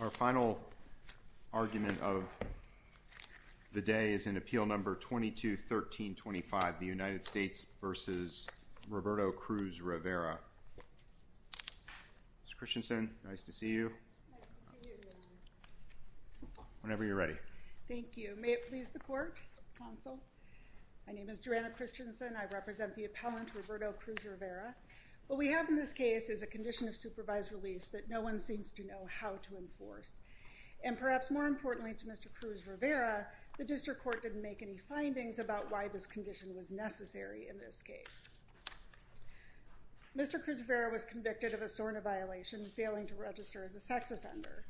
Our final argument of the day is in Appeal No. 22-1325, the United States v. Roberto Cruz-Rivera. Ms. Christensen, nice to see you. Nice to see you, Your Honor. Whenever you're ready. Thank you. May it please the Court, Counsel. My name is Joanna Christensen. I represent the appellant, Roberto Cruz-Rivera. What we have in this case is a condition of supervised release that no one seems to know how to enforce. And perhaps more importantly to Mr. Cruz-Rivera, the District Court didn't make any findings about why this condition was necessary in this case. Mr. Cruz-Rivera was convicted of a SORNA violation, failing to register as a sex offender.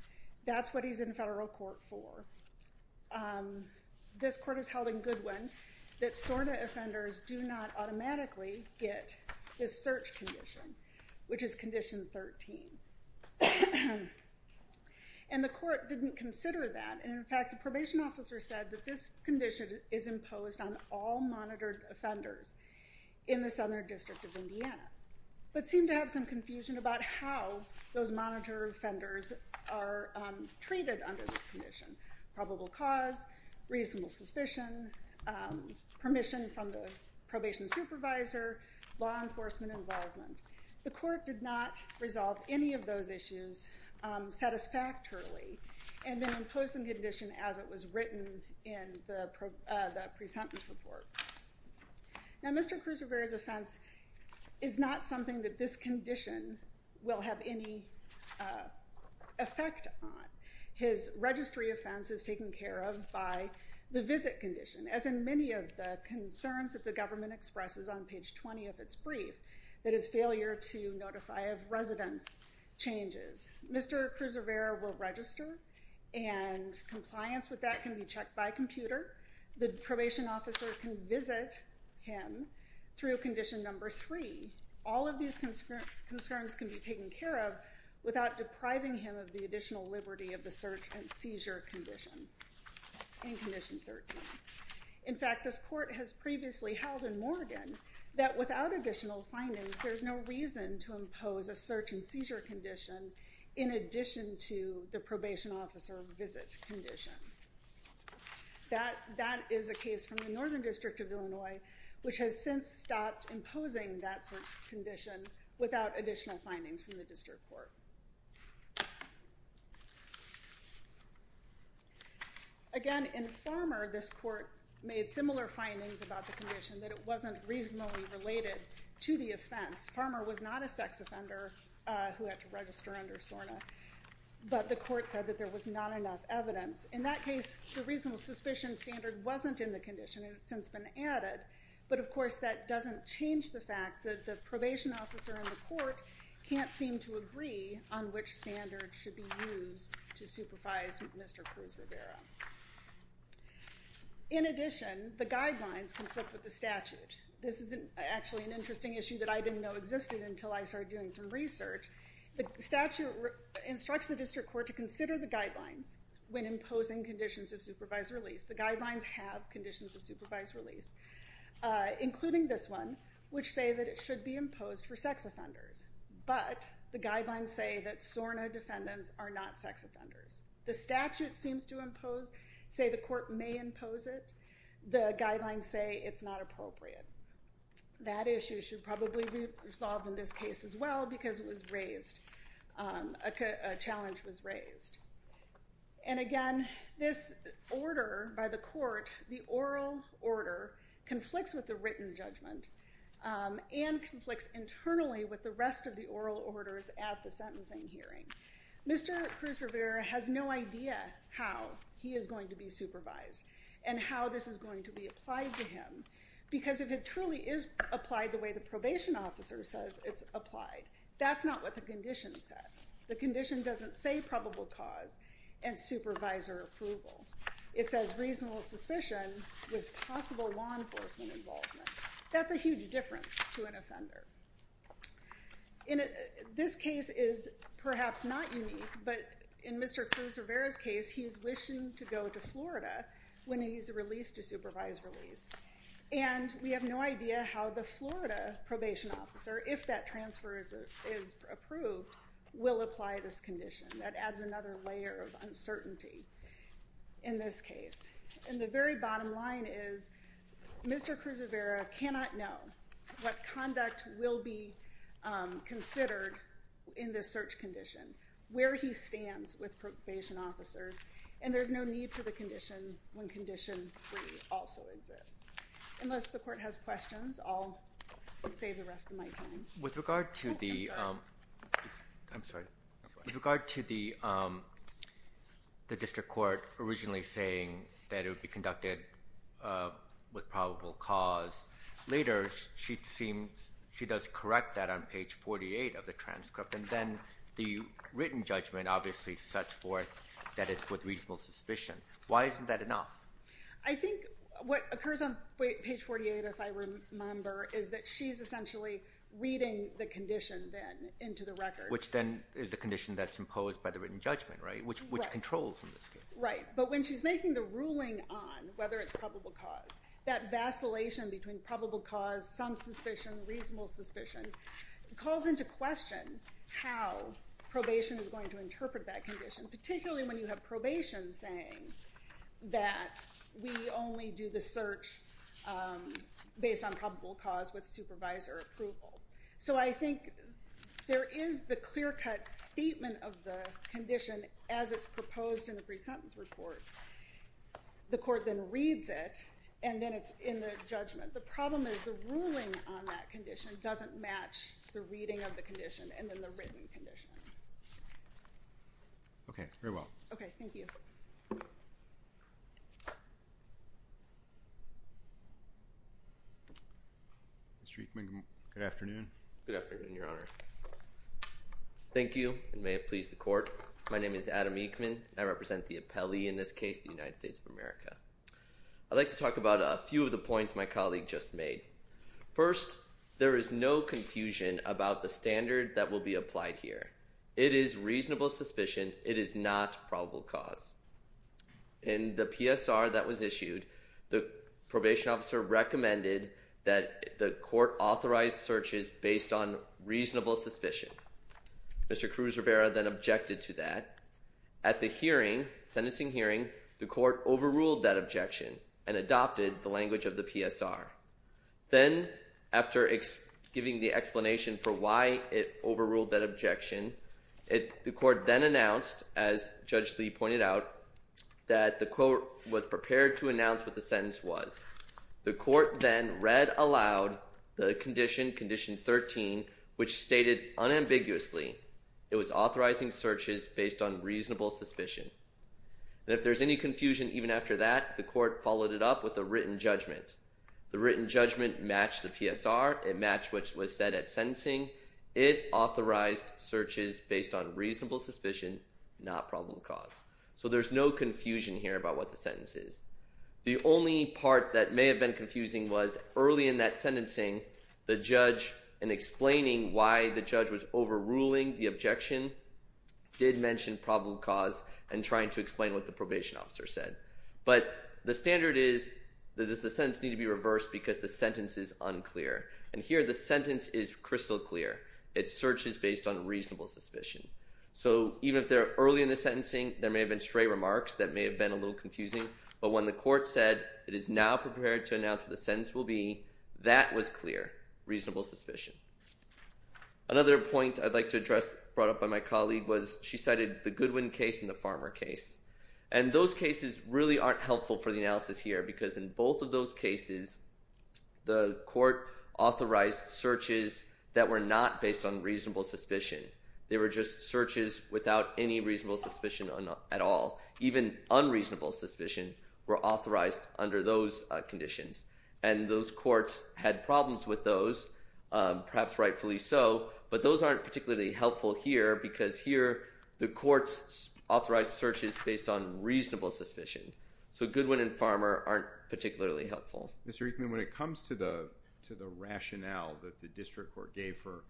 That's what he's in federal court for. This Court has held in Goodwin that SORNA offenders do not automatically get this search condition, which is Condition 13. And the Court didn't consider that. In fact, the probation officer said that this condition is imposed on all monitored offenders in the Southern District of Indiana, but seemed to have some confusion about how those monitored offenders are treated under this condition. Probable cause, reasonable suspicion, permission from the probation supervisor, law enforcement involvement. The Court did not resolve any of those issues satisfactorily and then imposed the condition as it was written in the pre-sentence report. Now Mr. Cruz-Rivera's offense is not something that this condition will have any effect on. His registry offense is taken care of by the visit condition, as in many of the concerns that the government expresses on page 20 of its brief, that is failure to notify of residence changes. Mr. Cruz-Rivera will register and compliance with that can be checked by computer. The probation officer can visit him through Condition Number 3. All of these concerns can be taken care of without depriving him of the additional liberty of the search and seizure condition in Condition 13. In fact, this Court has previously held in Morgan that without additional findings, there's no reason to impose a search and seizure condition in addition to the probation officer visit condition. That is a case from the Northern District of Illinois, which has since stopped imposing that search condition without additional findings from the District Court. Again, in Farmer, this Court made similar findings about the condition that it wasn't reasonably related to the offense. Farmer was not a sex offender who had to register under SORNA, but the Court said that there was not enough evidence. In that case, the reasonable suspicion standard wasn't in the condition and it's since been added, but of course that doesn't change the fact that the probation officer in the Court can't seem to agree on which standard should be used to supervise Mr. Cruz-Rivera. In addition, the guidelines conflict with the statute. This is actually an interesting issue that I didn't know existed until I started doing some research. The statute instructs the District Court to consider the guidelines when imposing conditions of supervised release. The guidelines have conditions of supervised release, including this one, which say that it should be imposed for sex offenders, but the guidelines say that SORNA defendants are not sex offenders. The statute seems to say the Court may impose it. The guidelines say it's not appropriate. That issue should probably be resolved in this case as well because a challenge was raised. Again, this order by the Court, the oral order, conflicts with the written judgment and conflicts internally with the rest of the oral orders at the sentencing hearing. Mr. Cruz-Rivera has no idea how he is going to be supervised and how this is going to be applied to him because if it truly is applied the way the probation officer says it's applied, that's not what the condition says. The condition doesn't say probable cause and supervisor approvals. It says reasonable suspicion with possible law enforcement involvement. That's a huge difference to an offender. This case is perhaps not unique, but in Mr. Cruz-Rivera's case, he is wishing to go to Florida when he's released to supervised release, and we have no idea how the Florida probation officer, if that transfer is approved, will apply this condition. That adds another layer of uncertainty in this case. The very bottom line is Mr. Cruz-Rivera cannot know what conduct will be considered in this search condition, where he stands with probation officers, and there's no need for the condition when condition 3 also exists. Unless the court has questions, I'll save the rest of my time. With regard to the district court originally saying that it would be conducted with probable cause, later she does correct that on page 48 of the transcript, and then the written judgment obviously sets forth that it's with reasonable suspicion. Why isn't that enough? I think what occurs on page 48, if I remember, is that she's essentially reading the condition then into the record. Which then is the condition that's imposed by the written judgment, right? Right. Which controls in this case. Right. But when she's making the ruling on whether it's probable cause, that vacillation between probable cause, some suspicion, reasonable suspicion, calls into question how probation is going to interpret that condition, particularly when you have probation saying that we only do the search based on probable cause with supervisor approval. So I think there is the clear-cut statement of the condition as it's proposed in the pre-sentence report. The court then reads it, and then it's in the judgment. The problem is the ruling on that condition doesn't match the reading of the condition and then the written condition. Okay. Very well. Thank you. Mr. Eekman, good afternoon. Good afternoon, Your Honor. Thank you, and may it please the court. My name is Adam Eekman, and I represent the appellee in this case, the United States of America. I'd like to talk about a few of the points my colleague just made. First, there is no confusion about the standard that will be applied here. It is reasonable suspicion. It is not probable cause. In the PSR that was issued, the probation officer recommended that the court authorize searches based on reasonable suspicion. Mr. Cruz-Rivera then objected to that. At the hearing, sentencing hearing, the court overruled that objection and adopted the language of the PSR. Then, after giving the explanation for why it overruled that objection, the court then announced, as Judge Lee pointed out, that the court was prepared to announce what the sentence was. The court then read aloud the condition, Condition 13, which stated unambiguously it was authorizing searches based on reasonable suspicion. If there's any confusion even after that, the court followed it up with a written judgment. The written judgment matched the PSR. It matched what was said at sentencing. It authorized searches based on reasonable suspicion, not probable cause. So there's no confusion here about what the sentence is. The only part that may have been confusing was early in that sentencing, the judge, in explaining why the judge was overruling the objection, did mention probable cause and trying to explain what the probation officer said. But the standard is that the sentence needs to be reversed because the sentence is unclear. And here the sentence is crystal clear. It's searches based on reasonable suspicion. So even if they're early in the sentencing, there may have been stray remarks that may have been a little confusing. But when the court said it is now prepared to announce what the sentence will be, that was clear, reasonable suspicion. Another point I'd like to address brought up by my colleague was she cited the Goodwin case and the Farmer case. And those cases really aren't helpful for the analysis here because in both of those cases, the court authorized searches that were not based on reasonable suspicion. They were just searches without any reasonable suspicion at all. Even unreasonable suspicion were authorized under those conditions. And those courts had problems with those, perhaps rightfully so, but those aren't particularly helpful here because here the court's authorized searches based on reasonable suspicion. So Goodwin and Farmer aren't particularly helpful. Mr. Eichmann, when it comes to the rationale that the district court gave for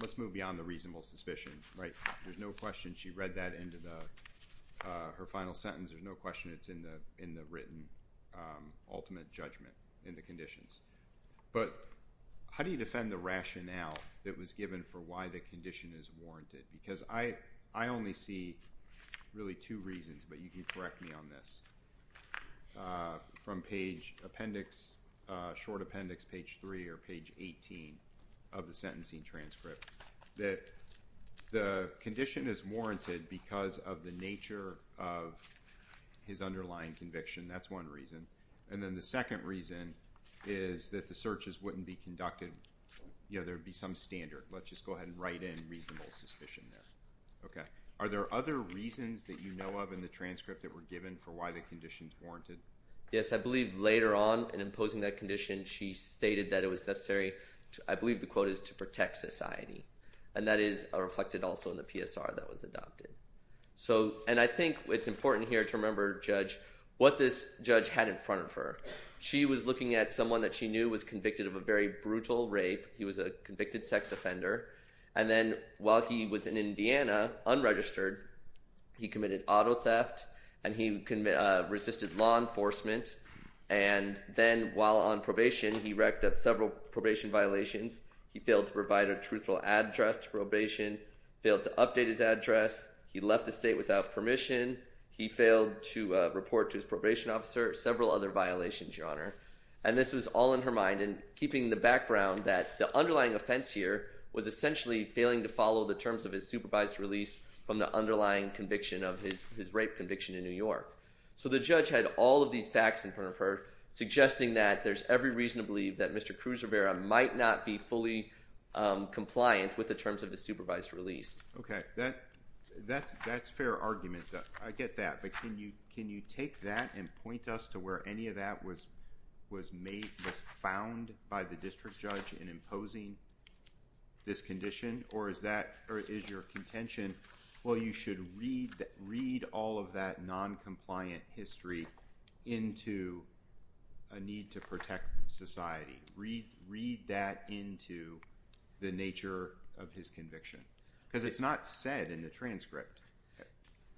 let's move beyond the reasonable suspicion, right? There's no question she read that into her final sentence. There's no question it's in the written ultimate judgment in the conditions. But how do you defend the rationale that was given for why the condition is warranted? Because I only see really two reasons, but you can correct me on this. From page appendix, short appendix, page 3 or page 18 of the sentencing transcript, that the condition is warranted because of the nature of his underlying conviction. That's one reason. And then the second reason is that the searches wouldn't be conducted, you know, there would be some standard. Let's just go ahead and write in reasonable suspicion there. Are there other reasons that you know of in the transcript that were given for why the condition is warranted? Yes, I believe later on in imposing that condition she stated that it was necessary, I believe the quote is, to protect society. And that is reflected also in the PSR that was adopted. And I think it's important here to remember, Judge, what this judge had in front of her. She was looking at someone that she knew was convicted of a very brutal rape. He was a convicted sex offender. And then while he was in Indiana, unregistered, he committed auto theft and he resisted law enforcement. And then while on probation, he wrecked up several probation violations. He failed to provide a truthful address to probation, failed to update his address. He left the state without permission. He failed to report to his probation officer. Several other violations, Your Honor. And this was all in her mind and keeping the background that the underlying offense here was essentially failing to follow the terms of his supervised release from the underlying conviction of his rape conviction in New York. So the judge had all of these facts in front of her, suggesting that there's every reason to believe that Mr. Cruz Rivera might not be fully compliant with the terms of his supervised release. Okay. That's fair argument. I get that. But can you take that and point us to where any of that was made, was found by the district judge in imposing this condition? Or is your contention, well, you should read all of that noncompliant history into a need to protect society. Read that into the nature of his conviction. Because it's not said in the transcript.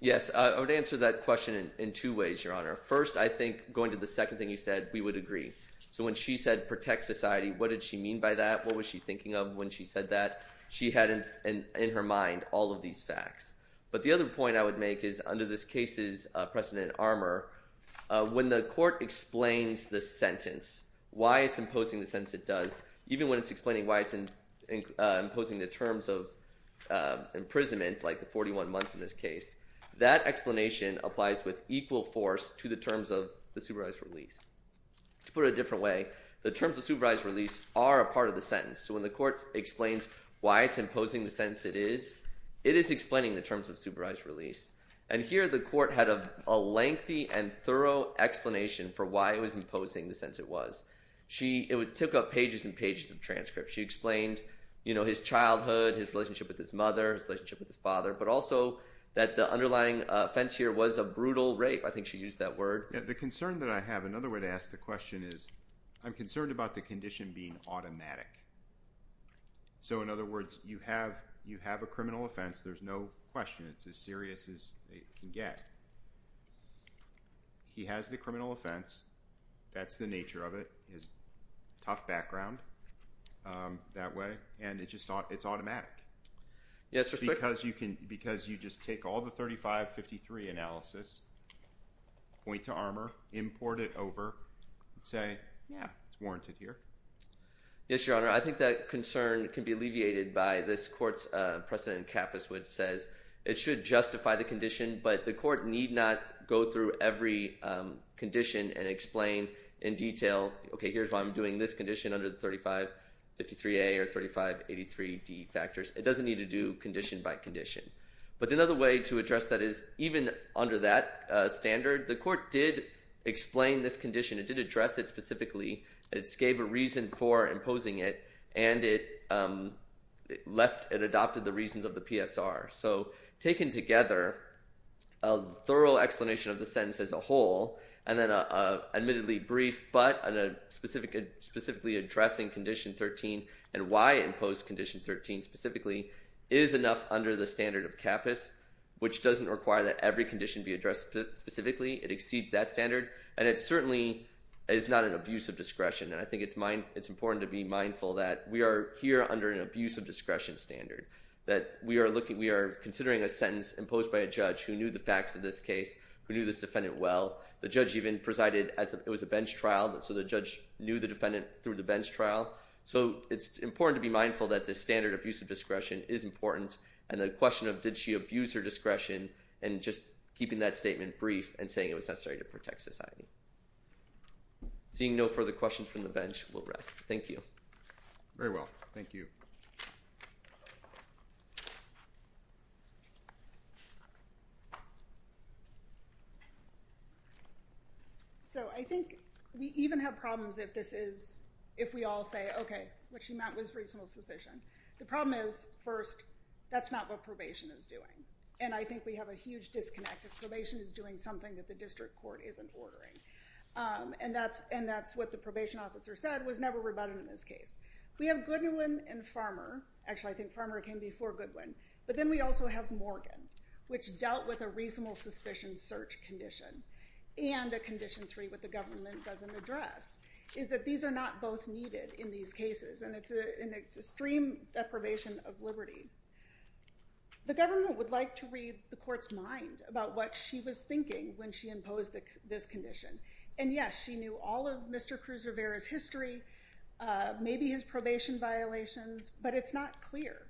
Yes. I would answer that question in two ways, Your Honor. First, I think going to the second thing you said, we would agree. So when she said protect society, what did she mean by that? What was she thinking of when she said that? She had in her mind all of these facts. But the other point I would make is under this case's precedent armor, when the court explains the sentence, why it's imposing the sentence it does, even when it's explaining why it's imposing the terms of imprisonment, like the 41 months in this case, that explanation applies with equal force to the terms of the supervised release. To put it a different way, the terms of supervised release are a part of the sentence. So when the court explains why it's imposing the sentence it is, it is explaining the terms of supervised release. And here the court had a lengthy and thorough explanation for why it was imposing the sentence it was. It took up pages and pages of transcripts. She explained his childhood, his relationship with his mother, his relationship with his father, but also that the underlying offense here was a brutal rape. I think she used that word. The concern that I have, another way to ask the question is I'm concerned about the condition being automatic. So in other words, you have a criminal offense. There's no question. It's as serious as it can get. He has the criminal offense. That's the nature of it. He has a tough background that way, and it's automatic. It's because you just take all the 3553 analysis, point to armor, import it over, and say, yeah, it's warranted here. Yes, Your Honor. I think that concern can be alleviated by this court's precedent in Capice, which says it should justify the condition, but the court need not go through every condition and explain in detail, okay, here's why I'm doing this condition under the 3553A or 3583D factors. It doesn't need to do condition by condition. But another way to address that is even under that standard, the court did explain this condition. It did address it specifically. It gave a reason for imposing it, and it adopted the reasons of the PSR. So taken together, a thorough explanation of the sentence as a whole, and then an admittedly brief but specifically addressing Condition 13 and why it imposed Condition 13 specifically is enough under the standard of Capice, which doesn't require that every condition be addressed specifically. It exceeds that standard, and it certainly is not an abuse of discretion. And I think it's important to be mindful that we are here under an abuse of discretion standard, that we are considering a sentence imposed by a judge who knew the facts of this case, who knew this defendant well. The judge even presided as it was a bench trial, so the judge knew the defendant through the bench trial. So it's important to be mindful that this standard abuse of discretion is important, and the question of did she abuse her discretion and just keeping that statement brief and saying it was necessary to protect society. Seeing no further questions from the bench, we'll rest. Thank you. Very well. Thank you. So I think we even have problems if we all say, okay, what she meant was reasonable suspicion. The problem is, first, that's not what probation is doing, and I think we have a huge disconnect if probation is doing something that the district court isn't ordering. And that's what the probation officer said was never rebutted in this case. We have Goodwin and Farmer. Actually, I think Farmer came before Goodwin. But then we also have Morgan, which dealt with a reasonable suspicion search condition and a condition three that the government doesn't address, is that these are not both needed in these cases, and it's an extreme deprivation of liberty. The government would like to read the court's mind about what she was thinking when she imposed this condition. And, yes, she knew all of Mr. Cruz-Rivera's history, maybe his probation violations, but it's not clear.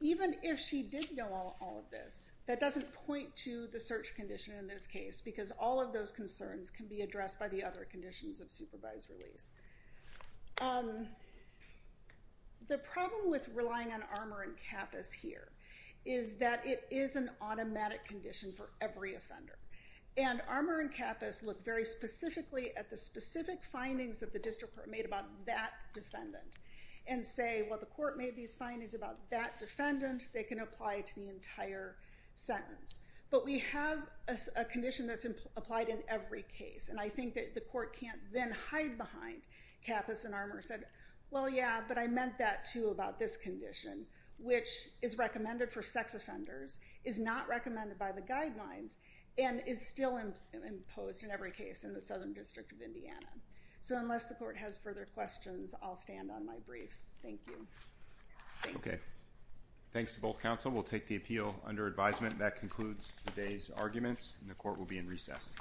Even if she did know all of this, that doesn't point to the search condition in this case because all of those concerns can be addressed by the other conditions of supervised release. The problem with relying on Armour and Kappus here is that it is an automatic condition for every offender. And Armour and Kappus look very specifically at the specific findings that the district court made about that defendant and say, well, the court made these findings about that defendant. They can apply it to the entire sentence. But we have a condition that's applied in every case, and I think that the court can't then hide behind Kappus and Armour and say, well, yeah, but I meant that, too, about this condition, which is recommended for sex offenders, is not recommended by the guidelines, and is still imposed in every case in the Southern District of Indiana. So unless the court has further questions, I'll stand on my briefs. Thank you. Okay. Thanks to both counsel. We'll take the appeal under advisement. That concludes today's arguments, and the court will be in recess.